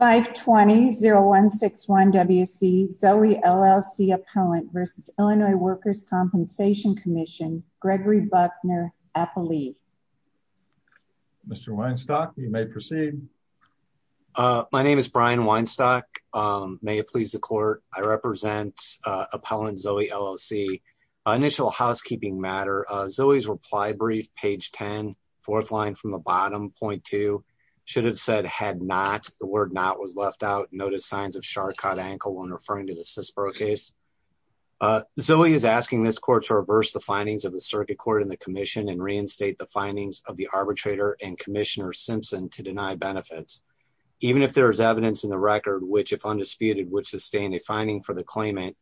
520-0161-WC Zoe, LLC Appellant v. Illinois Workers' Compensation Commission Gregory Buckner, Appellee Mr. Weinstock, you may proceed. My name is Brian Weinstock. May it please the court, I represent Appellant Zoe, LLC. Initial housekeeping matter, Zoe's reply brief, page 10, fourth line from the bottom, should have said, had not, the word not was left out, notice signs of shark caught ankle when referring to the Sisbro case. Zoe is asking this court to reverse the findings of the circuit court and the commission and reinstate the findings of the arbitrator and Commissioner Simpson to deny benefits. Even if there is evidence in the record, which if undisputed would sustain a finding for the claimant,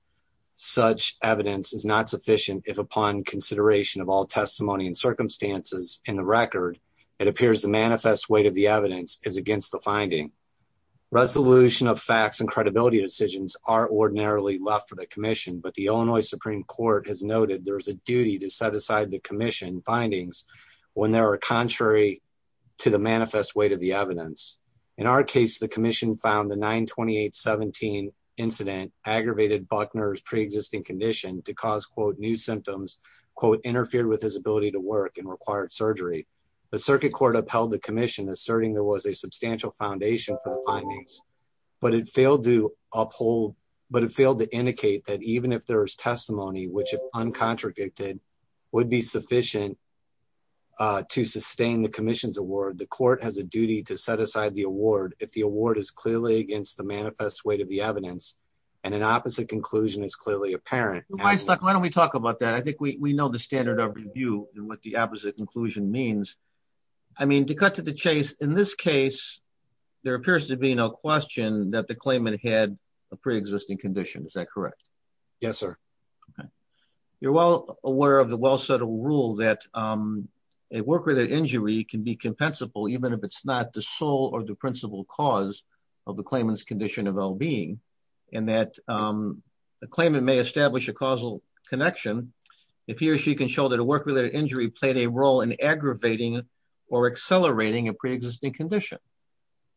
such evidence is not sufficient if upon consideration of all testimony and circumstances in the record, it appears the manifest weight of the evidence is against the finding. Resolution of facts and credibility decisions are ordinarily left for the commission, but the Illinois Supreme Court has noted there is a duty to set aside the commission findings when there are contrary to the manifest weight of the evidence. In our case, the commission found the 9-28-17 incident aggravated Buckner's preexisting condition to cause quote, new symptoms, quote, interfered with his ability to work and required surgery. The circuit court upheld the commission asserting there was a substantial foundation for the findings, but it failed to uphold, but it failed to indicate that even if there is testimony, which if uncontradicted would be sufficient to sustain the commission's award, the court has a duty to set aside the award. If the award is clearly against the manifest weight of the evidence and an opposite conclusion is clearly apparent. Why don't we talk about that? I think we know the standard of review and what the opposite conclusion means. I mean, to cut to the chase, in this case, there appears to be no question that the claimant had a preexisting condition. Is that correct? Yes, sir. Okay. You're well aware of the well-settled rule that a work-related injury can be compensable even if it's not the sole or the principal cause of the claimant's well-being and that the claimant may establish a causal connection if he or she can show that a work-related injury played a role in aggravating or accelerating a preexisting condition.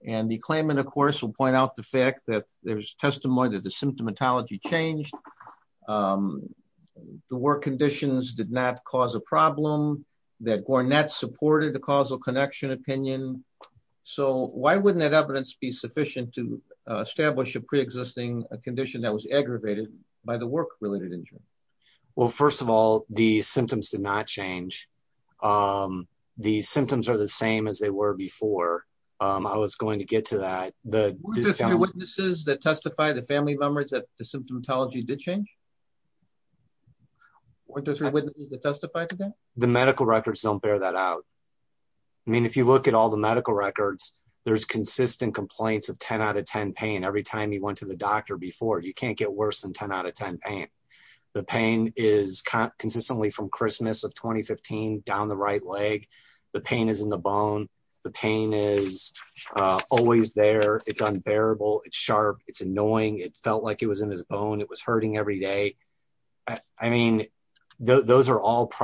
And the claimant, of course, will point out the fact that there's testimony that the symptomatology changed, the work conditions did not cause a problem, that Gornett supported the preexisting condition that was aggravated by the work-related injury. Well, first of all, the symptoms did not change. The symptoms are the same as they were before. I was going to get to that. The witnesses that testify, the family members that the symptomatology did change? The medical records don't bear that out. I mean, if you look at all the medical records, there's consistent complaints of 10 out of 10 pain every time you went to the doctor before. You can't get worse than 10 out of 10 pain. The pain is consistently from Christmas of 2015, down the right leg. The pain is in the bone. The pain is always there. It's unbearable. It's sharp. It's annoying. It felt like it was in his bone. It was hurting every day. I mean, those are all but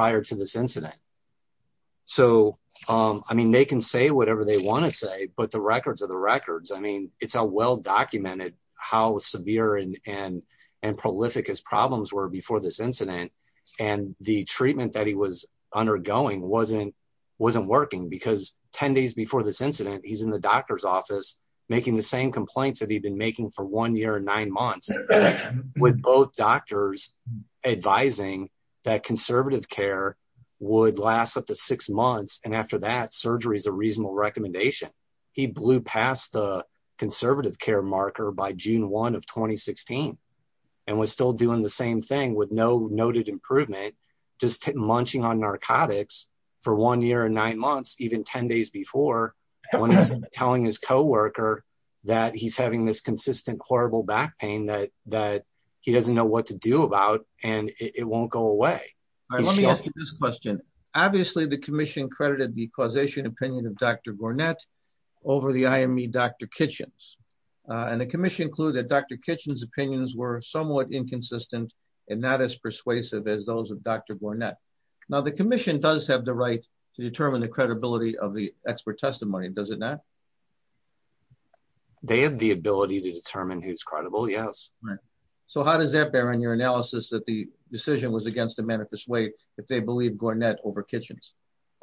the records are the records. I mean, it's a well-documented how severe and prolific his problems were before this incident. The treatment that he was undergoing wasn't working because 10 days before this incident, he's in the doctor's office making the same complaints that he'd been making for one year and nine months with both doctors advising that conservative care would last up to six months. And after that surgery is a reasonable recommendation. He blew past the conservative care marker by June 1 of 2016, and was still doing the same thing with no noted improvement, just munching on narcotics for one year and nine months, even 10 days before when he was telling his coworker that he's having this consistent, horrible back pain that he doesn't know what to do about and it won't go away. All right, let me ask you this question. Obviously the commission credited the causation opinion of Dr. Gornett over the IME Dr. Kitchens. And the commission clued that Dr. Kitchens opinions were somewhat inconsistent and not as persuasive as those of Dr. Gornett. Now the commission does have the right to determine the credibility of the expert testimony, does it not? They have the ability to determine who's credible, yes. So how does that bear in your analysis that the decision was against the manifest way if they believe Gornett over Kitchens?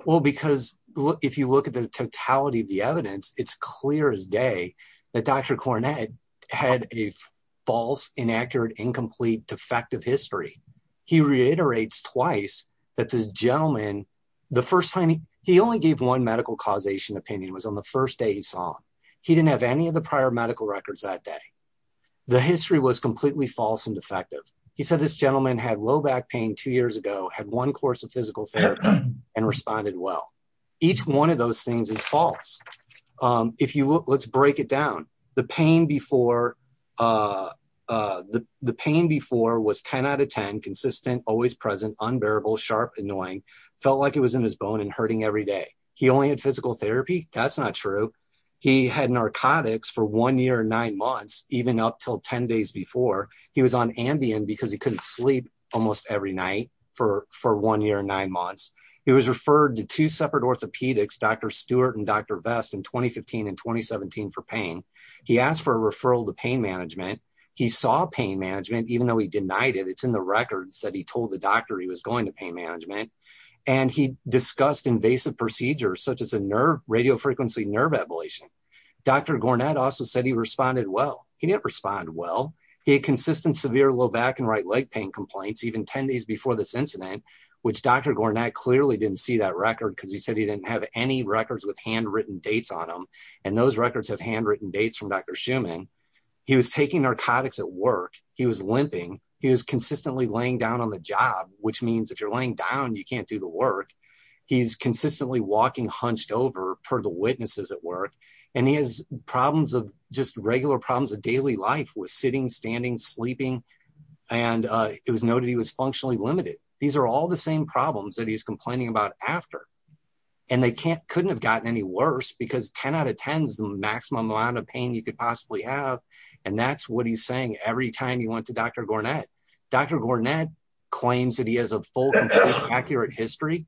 Well, because if you look at the totality of the evidence, it's clear as day that Dr. Gornett had a false, inaccurate, incomplete, defective history. He reiterates twice that this gentleman, the first time he only gave one medical causation opinion was on the first day he saw him. He didn't have any of the prior medical records that day. The history was completely false and defective. He said this gentleman had low back pain two years ago, had one course of physical therapy and responded well. Each one of those things is false. If you look, let's break it down. The pain before was 10 out of 10 consistent, always present, unbearable, sharp, annoying, felt like it was in his bone and hurting every day. He only had not true. He had narcotics for one year and nine months, even up until 10 days before. He was on Ambien because he couldn't sleep almost every night for one year and nine months. He was referred to two separate orthopedics, Dr. Stewart and Dr. Vest in 2015 and 2017 for pain. He asked for a referral to pain management. He saw pain management, even though he denied it, it's in the records that he told the doctor he was going to pain management and he discussed invasive procedures such as a nerve, radiofrequency nerve ablation. Dr. Gornett also said he responded well. He didn't respond well. He had consistent severe low back and right leg pain complaints, even 10 days before this incident, which Dr. Gornett clearly didn't see that record because he said he didn't have any records with handwritten dates on him. And those records have handwritten dates from Dr. Schumann. He was taking narcotics at work. He was limping. He was consistently laying down on the job, which means if you're laying down, you can't do the work. He's consistently walking hunched over for the witnesses at work. And he has problems of just regular problems of daily life with sitting, standing, sleeping. And it was noted he was functionally limited. These are all the same problems that he's complaining about after. And they couldn't have gotten any worse because 10 out of 10 is the went to Dr. Gornett. Dr. Gornett claims that he has a full and accurate history,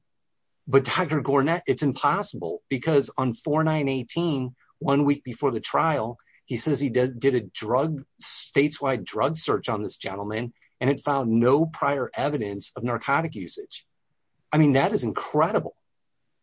but Dr. Gornett, it's impossible because on 4918, one week before the trial, he says he did a drug stateswide drug search on this gentleman. And it found no prior evidence of narcotic usage. I mean, that is incredible.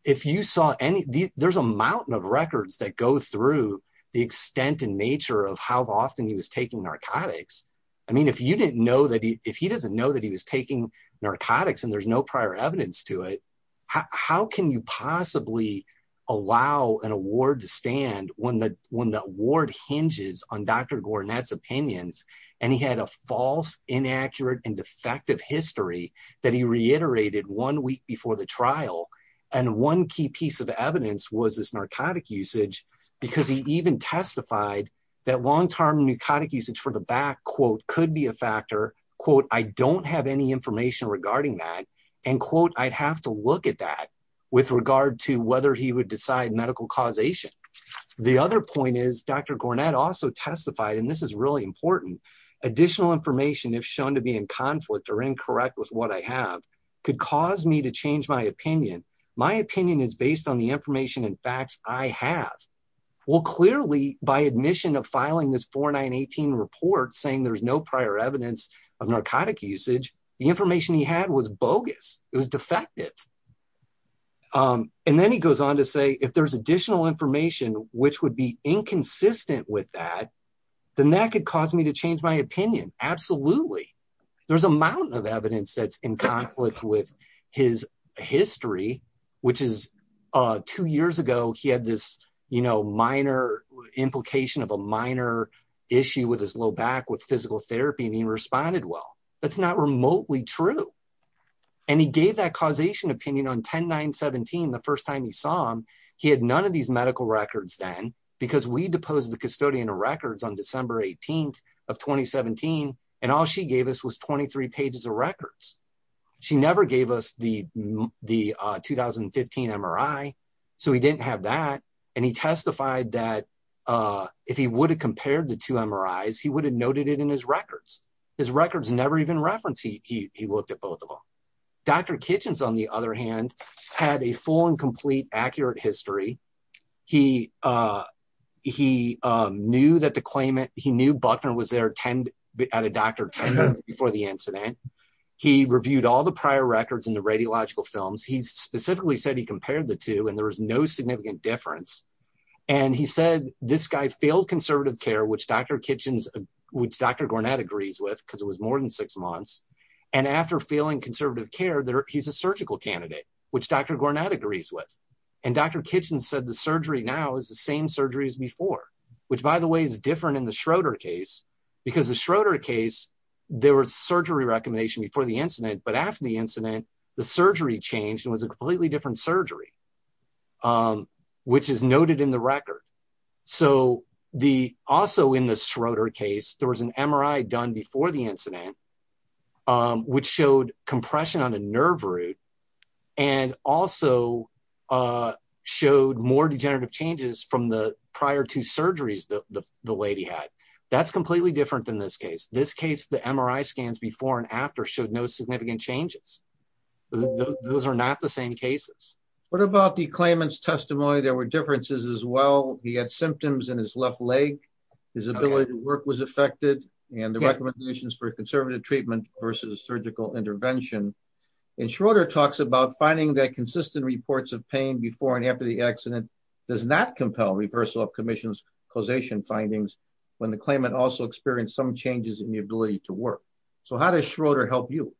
If you saw any, there's a mountain of records that go through the extent and nature of how often he was taking narcotics. I mean, if you didn't know that he, if he doesn't know that he was taking narcotics and there's no prior evidence to it, how can you possibly allow an award to stand when the one that ward hinges on Dr. Gornett's opinions? And he had a false inaccurate and defective history that he reiterated one week before the trial. And one key piece of evidence was this narcotic usage because he even testified that long-term narcotic usage for the back quote, could be a factor. Quote, I don't have any information regarding that and quote, I'd have to look at that with regard to whether he would decide medical causation. The other point is Dr. Gornett also testified, and this is really important additional information if shown to be in conflict or incorrect with what I have could cause me to change my opinion. My opinion is based on the information and facts I have. Well, clearly by admission of filing this 4918 report saying there's no prior evidence of narcotic usage, the information he had was bogus. It was defective. And then he goes on to say, if there's additional information, which would be inconsistent with that, then that could cause me to change my opinion. Absolutely. There's a mountain of evidence that's in conflict with his history, which is two years ago, he had this minor implication of a minor issue with his low back with physical therapy and he responded well. That's not remotely true. And he gave that causation opinion on 10-9-17 the first time he saw him. He had none of these of 2017. And all she gave us was 23 pages of records. She never gave us the 2015 MRI. So he didn't have that. And he testified that if he would have compared the two MRIs, he would have noted it in his records. His records never even referenced. He looked at both of them. Dr. Kitchens, on the other hand, had a full and complete accurate history. He knew that the at a doctor 10 months before the incident. He reviewed all the prior records and the radiological films. He specifically said he compared the two and there was no significant difference. And he said, this guy failed conservative care, which Dr. Kitchens, which Dr. Gornat agrees with, because it was more than six months. And after feeling conservative care there, he's a surgical candidate, which Dr. Gornat agrees with. And Dr. Kitchens said the surgery now is the same surgery as before, which by the way, is different in the Schroeder case. Because the Schroeder case, there was surgery recommendation before the incident, but after the incident, the surgery changed and was a completely different surgery, which is noted in the record. So also in the Schroeder case, there was an MRI done before the incident, which showed compression on a nerve root and also showed more degenerative changes from the prior two surgeries that the lady had. That's completely different than this case. This case, the MRI scans before and after showed no significant changes. Those are not the same cases. What about the claimant's testimony? There were differences as well. He had symptoms in his left leg. His ability to work was affected and the recommendations for conservative treatment versus surgical intervention. And Schroeder talks about finding that consistent reports of pain before and after the accident does not compel reversal of commission's causation findings when the claimant also experienced some changes in the ability to work. So how does Schroeder help you?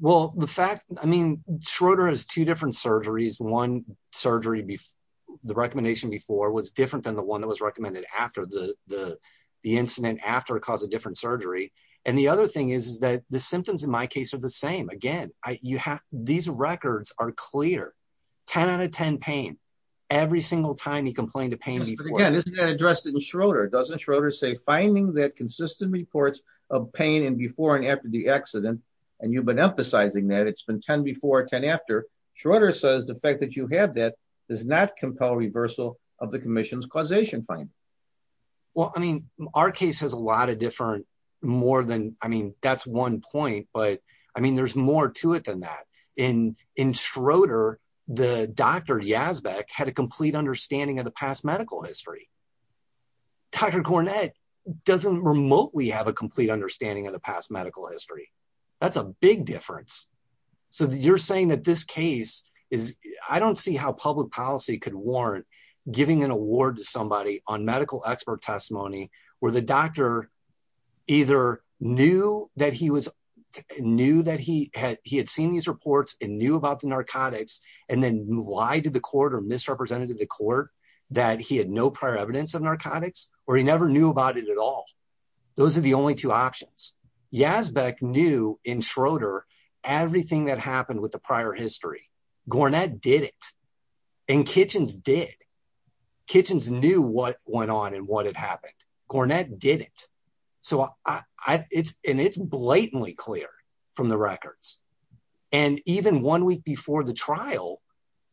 Well, the fact, I mean, Schroeder has two different surgeries. One surgery, the recommendation before was different than the one that was recommended after the incident after it caused a different surgery. And the other thing is that the symptoms in my case are the same. Again, these records are clear. 10 out of 10 pain. Every single time he complained of pain before. Again, isn't that addressed in Schroeder? Doesn't Schroeder say finding that consistent reports of pain in before and after the accident, and you've been emphasizing that it's been 10 before, 10 after. Schroeder says the fact that you have that does not compel reversal of the commission's causation findings. Well, I mean, our case has a lot of different, more than, I mean, that's one point, but I mean, there's more to it than that. In Schroeder, the doctor Yazbeck had a complete understanding of the past medical history. Dr. Cornett doesn't remotely have a complete understanding of the past medical history. That's a big difference. So you're saying that this case is, I don't see how public policy could warrant giving an award to somebody on medical expert testimony where the doctor either knew that he was, knew that he had, he had seen these reports and knew about the narcotics. And then why did the court or misrepresented the court that he had no prior evidence of narcotics, or he never knew about it at all. Those are the only two options. Yazbeck knew in Schroeder, everything that went on and what had happened. Cornett didn't. So I it's, and it's blatantly clear from the records and even one week before the trial,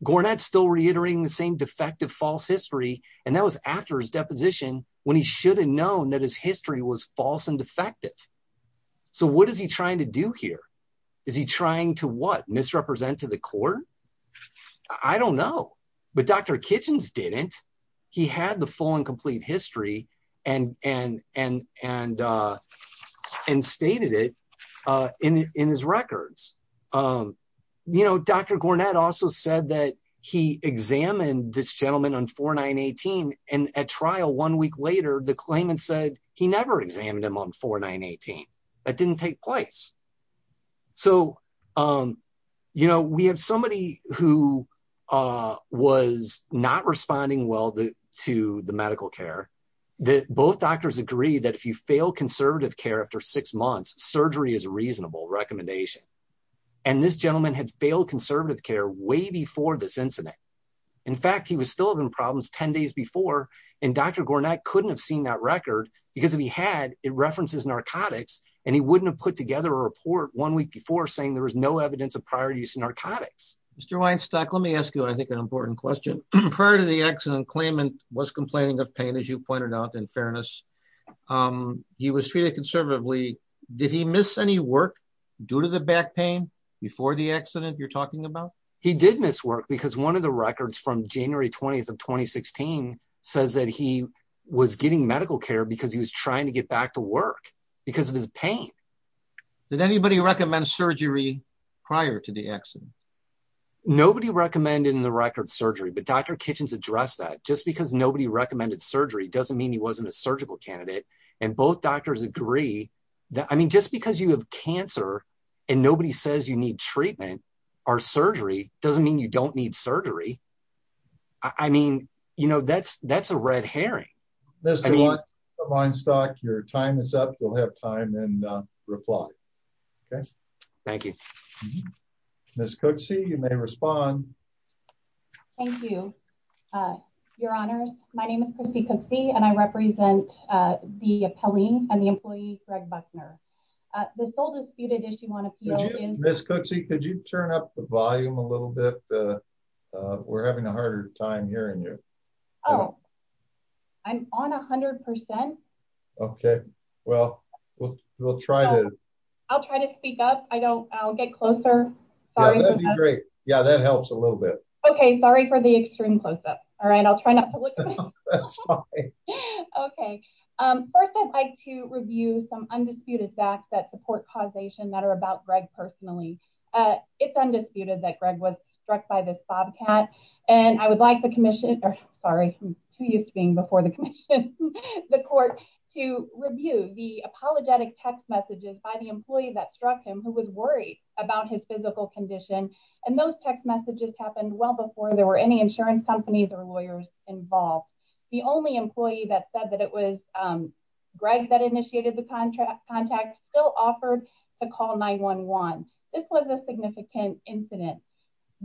Gornet still reiterating the same defective false history. And that was after his deposition when he should have known that his history was false and defective. So what is he trying to do here? Is he trying to what misrepresent to the court? I don't know. But Dr. Kitchens didn't. He had the full and complete history and, and, and, and, and stated it in his records. You know, Dr. Gornett also said that he examined this gentleman on 4918. And at trial one week later, the claimant said he never examined him on 4918. That didn't take place. So, you know, we have somebody who was not responding well to the medical care that both doctors agree that if you fail conservative care after six months, surgery is a reasonable recommendation. And this gentleman had failed conservative care way before this incident. In fact, he was still having problems 10 days before. And Dr. Gornett couldn't have seen that record because if he had, it references narcotics and he wouldn't have put together a report one week before saying there was no evidence of prior use of narcotics. Mr. Weinstock, let me ask you, I think an important question. Prior to the accident, claimant was complaining of pain, as you pointed out in fairness. He was treated conservatively. Did he miss any work due to the back pain before the accident you're talking about? He did miss work because one of the records from January 20th of 2016 says that he was getting medical care because he was trying to get back to work because of his pain. Did anybody recommend surgery prior to the accident? Nobody recommended in the record surgery, but Dr. Kitchens addressed that just because nobody recommended surgery doesn't mean he wasn't a surgical candidate. And both doctors agree I mean, just because you have cancer and nobody says you need treatment or surgery doesn't mean you don't need surgery. I mean, you know, that's that's a red herring. Mr. Weinstock, your time is up. You'll have time and reply. Okay. Thank you. Ms. Cooksey, you may respond. Thank you, Your Honors. My name is Christy Cooksey, and I represent the employee, Greg Buckner. The sole disputed issue on appeal is- Ms. Cooksey, could you turn up the volume a little bit? We're having a harder time hearing you. Oh, I'm on 100%. Okay, well, we'll try to- I'll try to speak up. I don't I'll get closer. That'd be great. Yeah, that helps a little bit. Okay, sorry for the extreme close up. All right, I'll try not to look. Okay, first, I'd like to review some undisputed facts that support causation that are about Greg personally. It's undisputed that Greg was struck by this bobcat. And I would like the commission, or sorry, I'm too used to being before the commission, the court to review the apologetic text messages by the employee that struck him who was worried about his physical condition. And those text messages happened well before there were any insurance companies or lawyers involved. The only employee that said that it was Greg that initiated the contract contact still offered to call 911. This was a significant incident.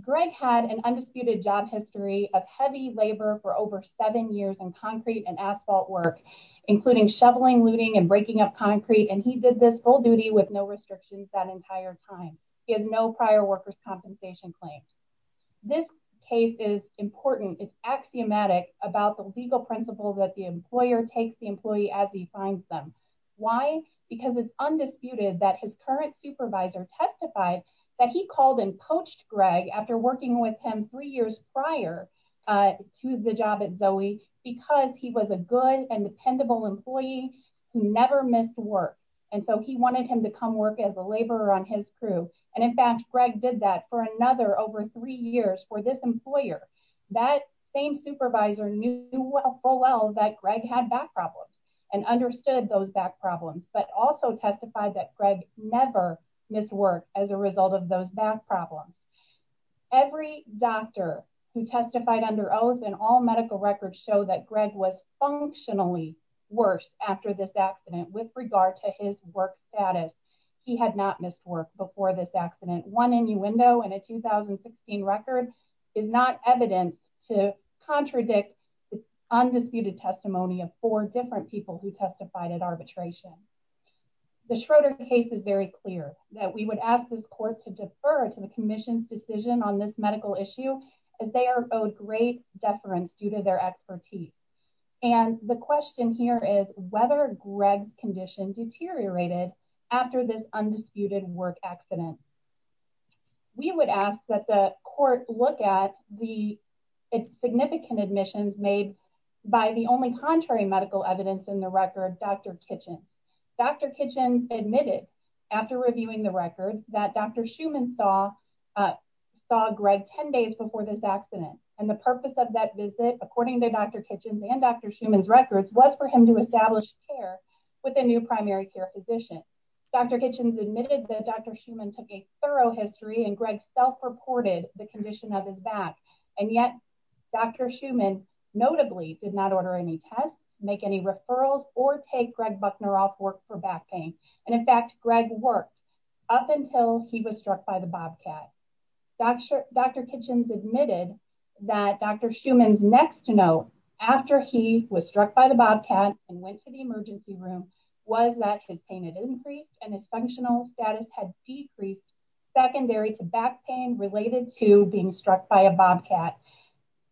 Greg had an undisputed job history of heavy labor for over seven years in concrete and asphalt work, including shoveling, looting and breaking up concrete. And he did this full duty with no restrictions that entire time. He has no prior workers compensation claims. This case is important. It's axiomatic about the legal principles that the employer takes the employee as he finds them. Why? Because it's undisputed that his current supervisor testified that he called and poached Greg after working with him three years prior to the job at Zoe because he was a good and dependable employee who never missed work. And so he wanted him to come work as a laborer on his crew. And in fact, Greg did that for another over three years for this employer, that same supervisor knew full well that Greg had back problems and understood those back problems, but also testified that Greg never missed work as a result of those back problems. Every doctor who testified under and all medical records show that Greg was functionally worse after this accident with regard to his work status. He had not missed work before this accident. One innuendo in a 2016 record is not evidence to contradict undisputed testimony of four different people who testified at arbitration. The Schroeder case is very clear that we would ask this court to defer to the commission's decision on this medical issue as they are owed great deference due to their expertise. And the question here is whether Greg's condition deteriorated after this undisputed work accident. We would ask that the court look at the significant admissions made by the only contrary medical evidence in the record, Dr. Kitchen. Dr. Kitchen admitted after reviewing the records that Dr. Schumann saw Greg 10 days before this accident. And the purpose of that visit, according to Dr. Kitchen's and Dr. Schumann's records, was for him to establish care with a new primary care physician. Dr. Kitchen admitted that Dr. Schumann took a thorough history and Greg self-reported the condition of his back. And yet Dr. Schumann notably did not order any tests, make any referrals or take Greg Buckner off work for back pain. And in fact, Greg worked up until he was struck by the Bobcat. Dr. Kitchen admitted that Dr. Schumann's next note after he was struck by the Bobcat and went to the emergency room was that his pain had increased and his functional status had decreased secondary to back pain related to being struck by a Bobcat.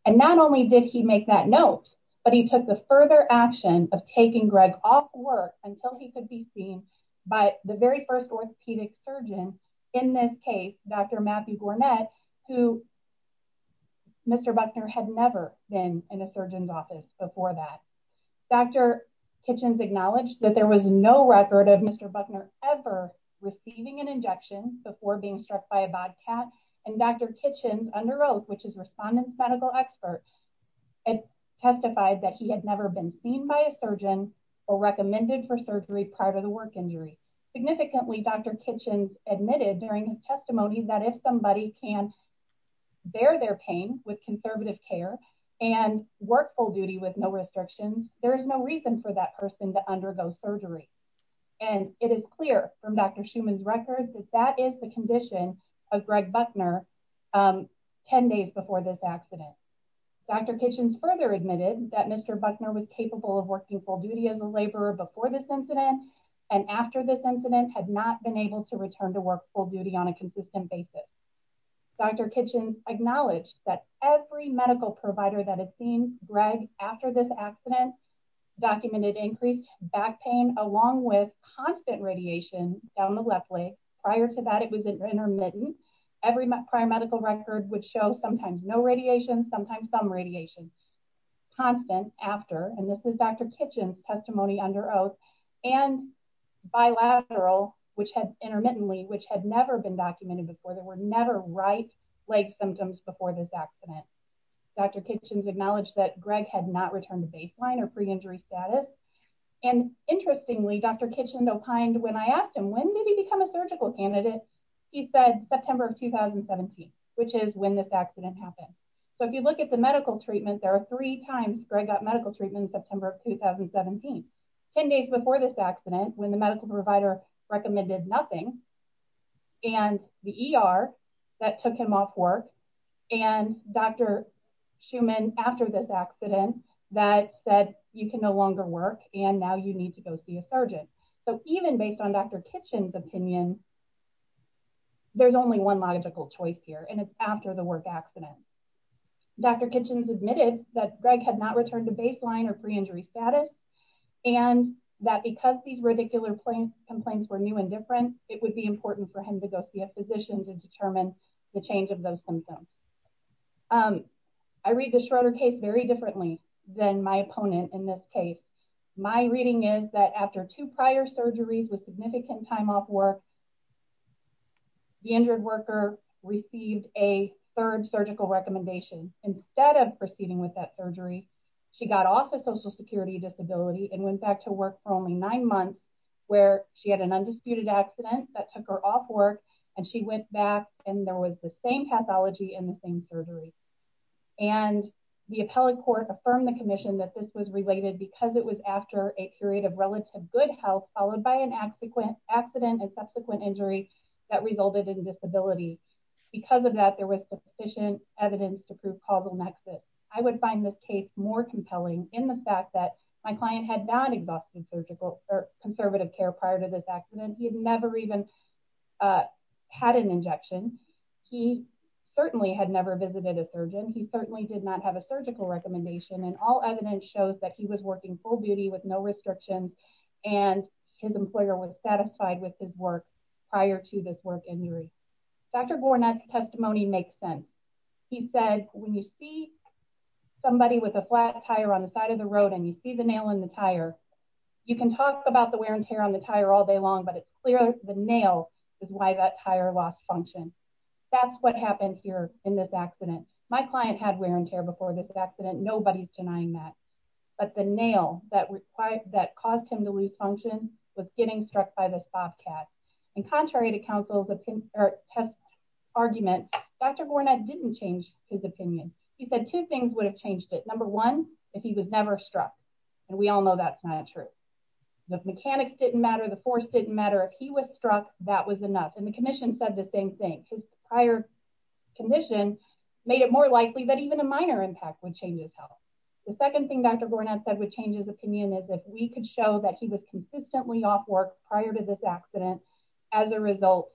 And not only did he make that note, but he took the further action of taking Greg off work until he could be seen by the very first orthopedic surgeon in this case, Dr. Matthew Gournette, who Mr. Buckner had never been in a surgeon's office before that. Dr. Kitchen's acknowledged that there was no record of Mr. Buckner ever receiving an injection before being struck by a Bobcat. And Dr. Kitchen's under oath, which is respondent's medical expert, had testified that he had never been seen by a surgeon or recommended for surgery prior to the work injury. Significantly, Dr. Kitchen admitted during his testimony that if somebody can bear their pain with conservative care and work full duty with no restrictions, there is no reason for that person to undergo surgery. And it is clear from Dr. Schumann's records that that is the Dr. Kitchen's further admitted that Mr. Buckner was capable of working full duty as a laborer before this incident and after this incident had not been able to return to work full duty on a consistent basis. Dr. Kitchen acknowledged that every medical provider that has seen Greg after this accident documented increased back pain along with constant radiation down the left leg. Prior to that, it was intermittent. Every prior medical record would show sometimes no radiation, sometimes some radiation. Constant after, and this is Dr. Kitchen's testimony under oath, and bilateral, which had intermittently, which had never been documented before. There were never right leg symptoms before this accident. Dr. Kitchen's acknowledged that Greg had not returned to baseline or pre-injury status. And interestingly, Dr. Kitchen opined when I asked him, when did he become a surgical candidate? He said September of 2017, which is when this accident happened. So if you look at the medical treatment, there are three times Greg got medical treatment in September of 2017. 10 days before this accident when the medical provider recommended nothing, and the ER that took him off work, and Dr. Schumann after this accident that said you can no longer work and now you need to go see a surgeon. So even based on Dr. Kitchen's opinion, there's only one logical choice here, and it's after the work accident. Dr. Kitchen's admitted that Greg had not returned to baseline or pre-injury status, and that because these radicular complaints were new and different, it would be important for him to go see a physician to determine the change of those symptoms. I read the Schroeder case very differently than my opponent in this case. My reading is that after two prior surgeries with the injured worker, the injured worker received a third surgical recommendation. Instead of proceeding with that surgery, she got off of social security disability and went back to work for only nine months where she had an undisputed accident that took her off work, and she went back and there was the same pathology and the same surgery. And the appellate court affirmed the commission that this was related because it was after a period of relative good health followed by an accident and subsequent injury that resulted in disability. Because of that, there was sufficient evidence to prove causal nexus. I would find this case more compelling in the fact that my client had not exhausted surgical or conservative care prior to this accident. He had never even had an injection. He certainly had never visited a surgeon. He certainly did not have a surgical recommendation, and all evidence shows that he was working full beauty with no restrictions, and his employer was satisfied with his work prior to this work injury. Dr. Gournett's testimony makes sense. He said, when you see somebody with a flat tire on the side of the road and you see the nail in the tire, you can talk about the wear and tear on the tire all day long, but it's clear the nail is why that tire lost function. That's what happened here in this accident. My client had wear and tear before this accident. Nobody's denying that, but the nail that caused him to lose function was getting struck by this bobcat, and contrary to counsel's test argument, Dr. Gournett didn't change his opinion. He said two things would have changed it. Number one, if he was never struck, and we all know that's not true. The mechanics didn't matter. The force didn't matter. If he was struck, that was enough, and the commission said the same thing. His prior condition made it more likely that even a minor impact would change his health. The second thing Dr. Gournett said would change his opinion is if we could show that he was consistently off work prior to this accident as a result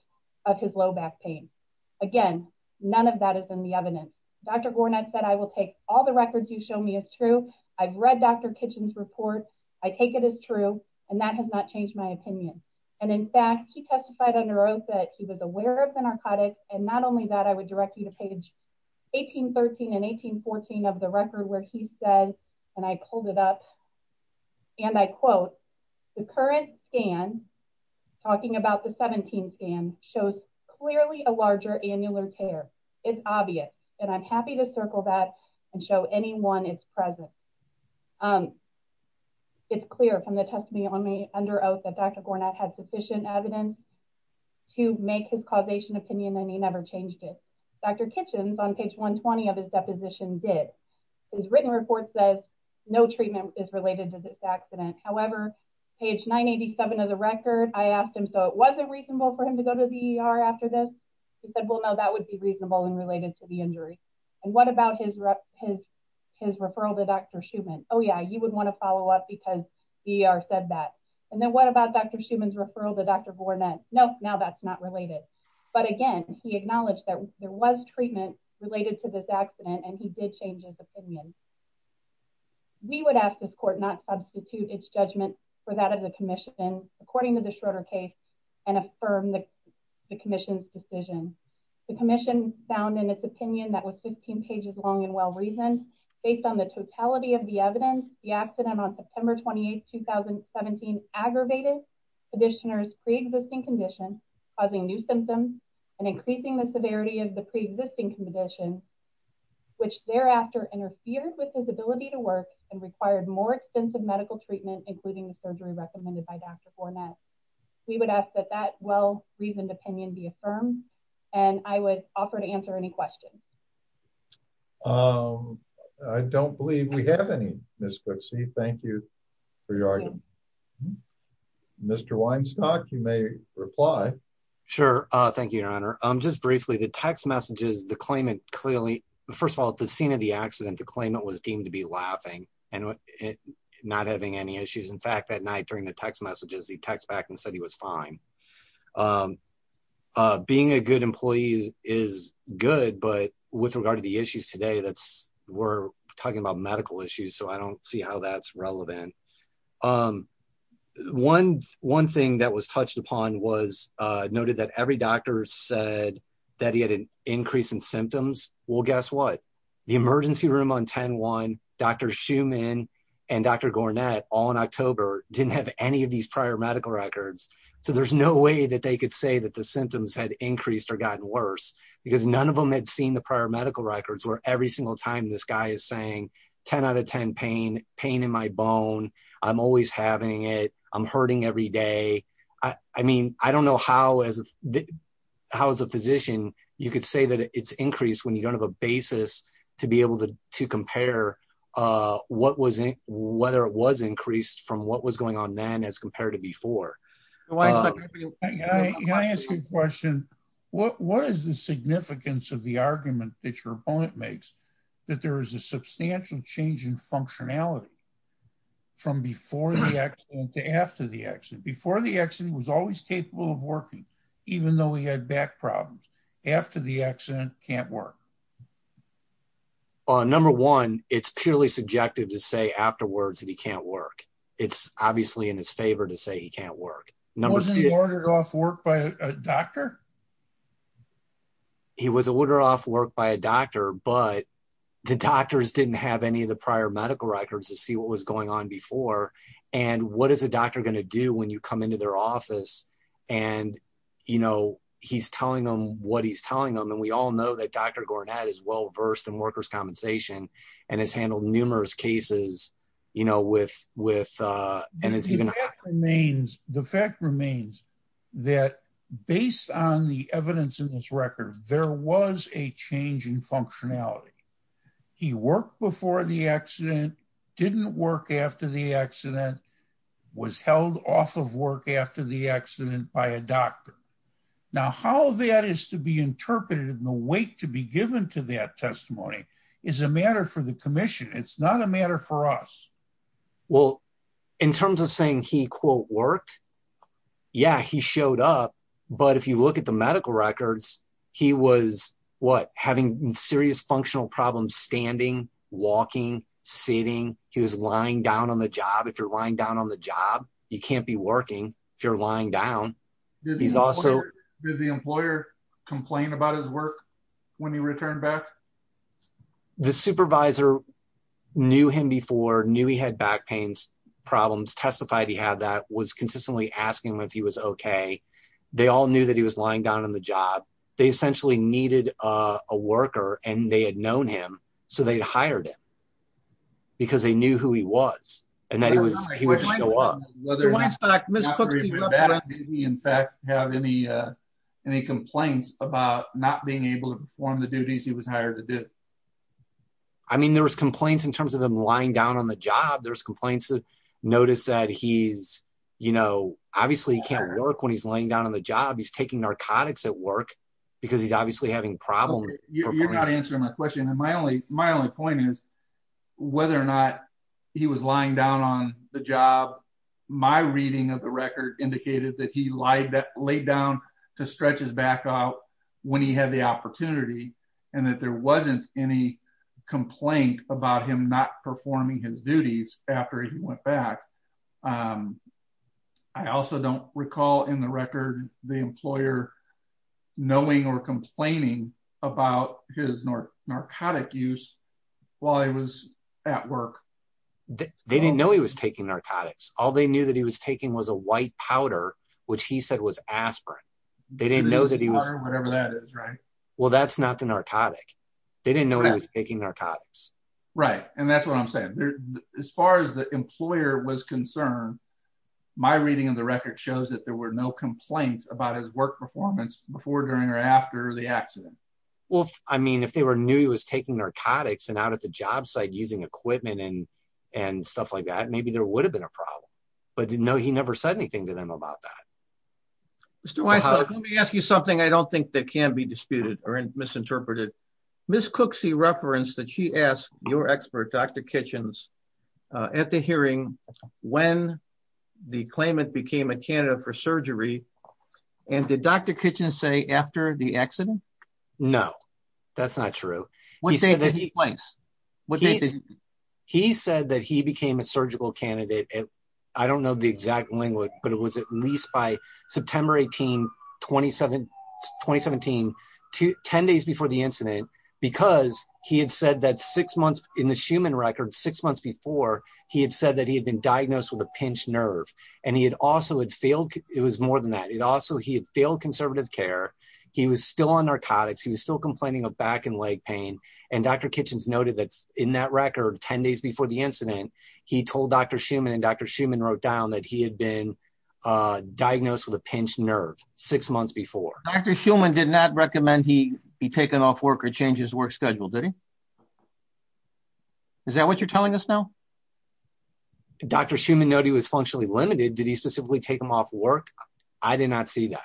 of his low back pain. Again, none of that is in the evidence. Dr. Gournett said, I will take all the records you show me as true. I've read Dr. Kitchen's report. I take it as true, and that has not changed my opinion, and in fact, he testified under oath that he was aware of the narcotics, and not only that, I would direct you to page 1813 and 1814 of the record where he said, and I pulled it up, and I quote, the current scan talking about the 17 scan shows clearly a larger annular tear. It's obvious, and I'm happy to circle that and show anyone its presence. It's clear from the testimony on me under oath that Dr. Gournett had sufficient evidence to make his causation opinion, and he never changed it. Dr. Kitchen's on page 120 of his written report says no treatment is related to this accident. However, page 987 of the record, I asked him, so it wasn't reasonable for him to go to the ER after this? He said, well, no, that would be reasonable and related to the injury, and what about his referral to Dr. Schumann? Oh, yeah, you would want to follow up because the ER said that, and then what about Dr. Schumann's referral to Dr. Gournett? No, now that's not related, but again, he acknowledged that there was treatment related to this accident, and he did change his opinion. We would ask this court not substitute its judgment for that of the commission according to the Schroeder case and affirm the commission's decision. The commission found in its opinion that was 15 pages long and well-reasoned. Based on the totality of the evidence, the accident on September 28, 2017 aggravated the petitioner's pre-existing condition, which thereafter interfered with his ability to work and required more extensive medical treatment, including the surgery recommended by Dr. Gournett. We would ask that that well-reasoned opinion be affirmed, and I would offer to answer any questions. I don't believe we have any, Ms. Goodsee. Thank you for your argument. Mr. Weinstock, you may reply. Sure, thank you, Your Honor. Just briefly, the text messages, the claimant clearly, first of all, at the scene of the accident, the claimant was deemed to be laughing and not having any issues. In fact, that night during the text messages, he text back and said he was fine. Being a good employee is good, but with regard to the issues today, that's, we're talking about medical issues, so I don't see how that's relevant. One thing that was touched upon was noted that every doctor said that he had an increase in symptoms. Well, guess what? The emergency room on 10-1, Dr. Schumann and Dr. Gournett, all in October, didn't have any of these prior medical records, so there's no way that they could say that the symptoms had increased or gotten worse, because none of them had seen the prior medical records where every single time this guy is saying, 10 out of 10 pain, pain in my bone, I'm always having it, I'm hurting every day. I mean, I don't know how, as a physician, you could say that it's increased when you don't have a basis to be able to compare whether it was increased from what was going on then as compared to before. Can I ask you a question? What is the significance of the argument that your opponent makes that there is a substantial change in symptoms? Well, number one, it's purely subjective to say afterwards that he can't work. It's obviously in his favor to say he can't work. Wasn't he ordered off work by a doctor? He was ordered off work by a doctor, but the doctors didn't have any of the prior medical records to see what was going on before, and what is a doctor going to do when you come into their office, and he's telling them what he's telling them, and we all know that Dr. Gornad is well-versed in workers' compensation and has handled numerous cases with, and it's even... The fact remains that based on the evidence in this record, there was a change in functionality. He worked before the accident, didn't work after the accident, was held off of work after the accident by a doctor. Now, how that is to be interpreted and the weight to be given to that testimony is a matter for the commission. It's not a matter for us. Well, in terms of saying he quote worked, yeah, he showed up, but if you look at the medical records, he was, what, having serious functional problems standing, walking, sitting. He was lying down on the job. If you're lying down on the job, you can't be working. If you're lying down, he's also... Did the employer complain about his work when he returned back? The supervisor knew him before, knew he had back pains problems, testified he had that, was consistently asking him if he was okay. They all knew that he was lying down on the job. They essentially needed a worker and they had known him, so they'd hired him because they knew who he was and that he would show up. Did he, in fact, have any complaints about not being able to perform the duties he was hired to do? I mean, there was complaints in terms of him lying down on the job. There's complaints that notice that he's, obviously he can't work when he's laying down on the job. He's taking narcotics at work because he's obviously having problems. You're not answering my question. My only point is whether or not he was lying down on the job. My reading of the record indicated that he laid down to stretch his back out when he had the opportunity and that there wasn't any complaint about him not performing his duties after he went back. I also don't recall in the record the employer knowing or complaining about his narcotic use while he was at work. They didn't know he was taking narcotics. All they knew that he was taking was a white powder, which he said was aspirin. They didn't know that he was, whatever that is, right? Well, that's not the narcotic. They didn't know he was taking narcotics. Right. And that's what I'm saying. As far as the employer was concerned, my reading of the record shows that there were no complaints about his work performance before, during, or after the accident. Well, I mean, if they knew he was taking narcotics and out at the job site using equipment and stuff like that, maybe there would have been a problem. But no, he never said anything to them about that. Mr. Weissel, let me ask you something I don't think that can be disputed or misinterpreted. Ms. Cooksey referenced that she asked your expert, Dr. Kitchens, at the hearing when the claimant became a candidate for surgery. And did Dr. Kitchens say after the accident? No, that's not true. He said that he became a surgical candidate. I don't know the exact language, but it was at least by September 18, 2017, 10 days before the incident, because he had said that six months in the Schumann record, six months before, he had said that he had been diagnosed with a pinched nerve. And he had also had failed. It was more than that. He had failed conservative care. He was still on narcotics. He was still complaining of back and leg pain. And Dr. Kitchens noted that in that record, 10 days before the incident, he told Dr. Schumann wrote down that he had been diagnosed with a pinched nerve six months before. Dr. Schumann did not recommend he be taken off work or change his work schedule, did he? Is that what you're telling us now? Dr. Schumann noted he was functionally limited. Did he specifically take him off work? I did not see that,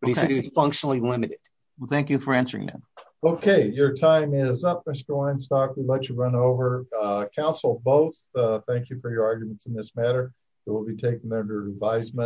but he said he was functionally limited. Well, thank you for answering that. Okay. Your time is up, Mr. Weinstock. We'll let you run over. Counsel both, thank you for your arguments in this matter. It will be taken under advisement.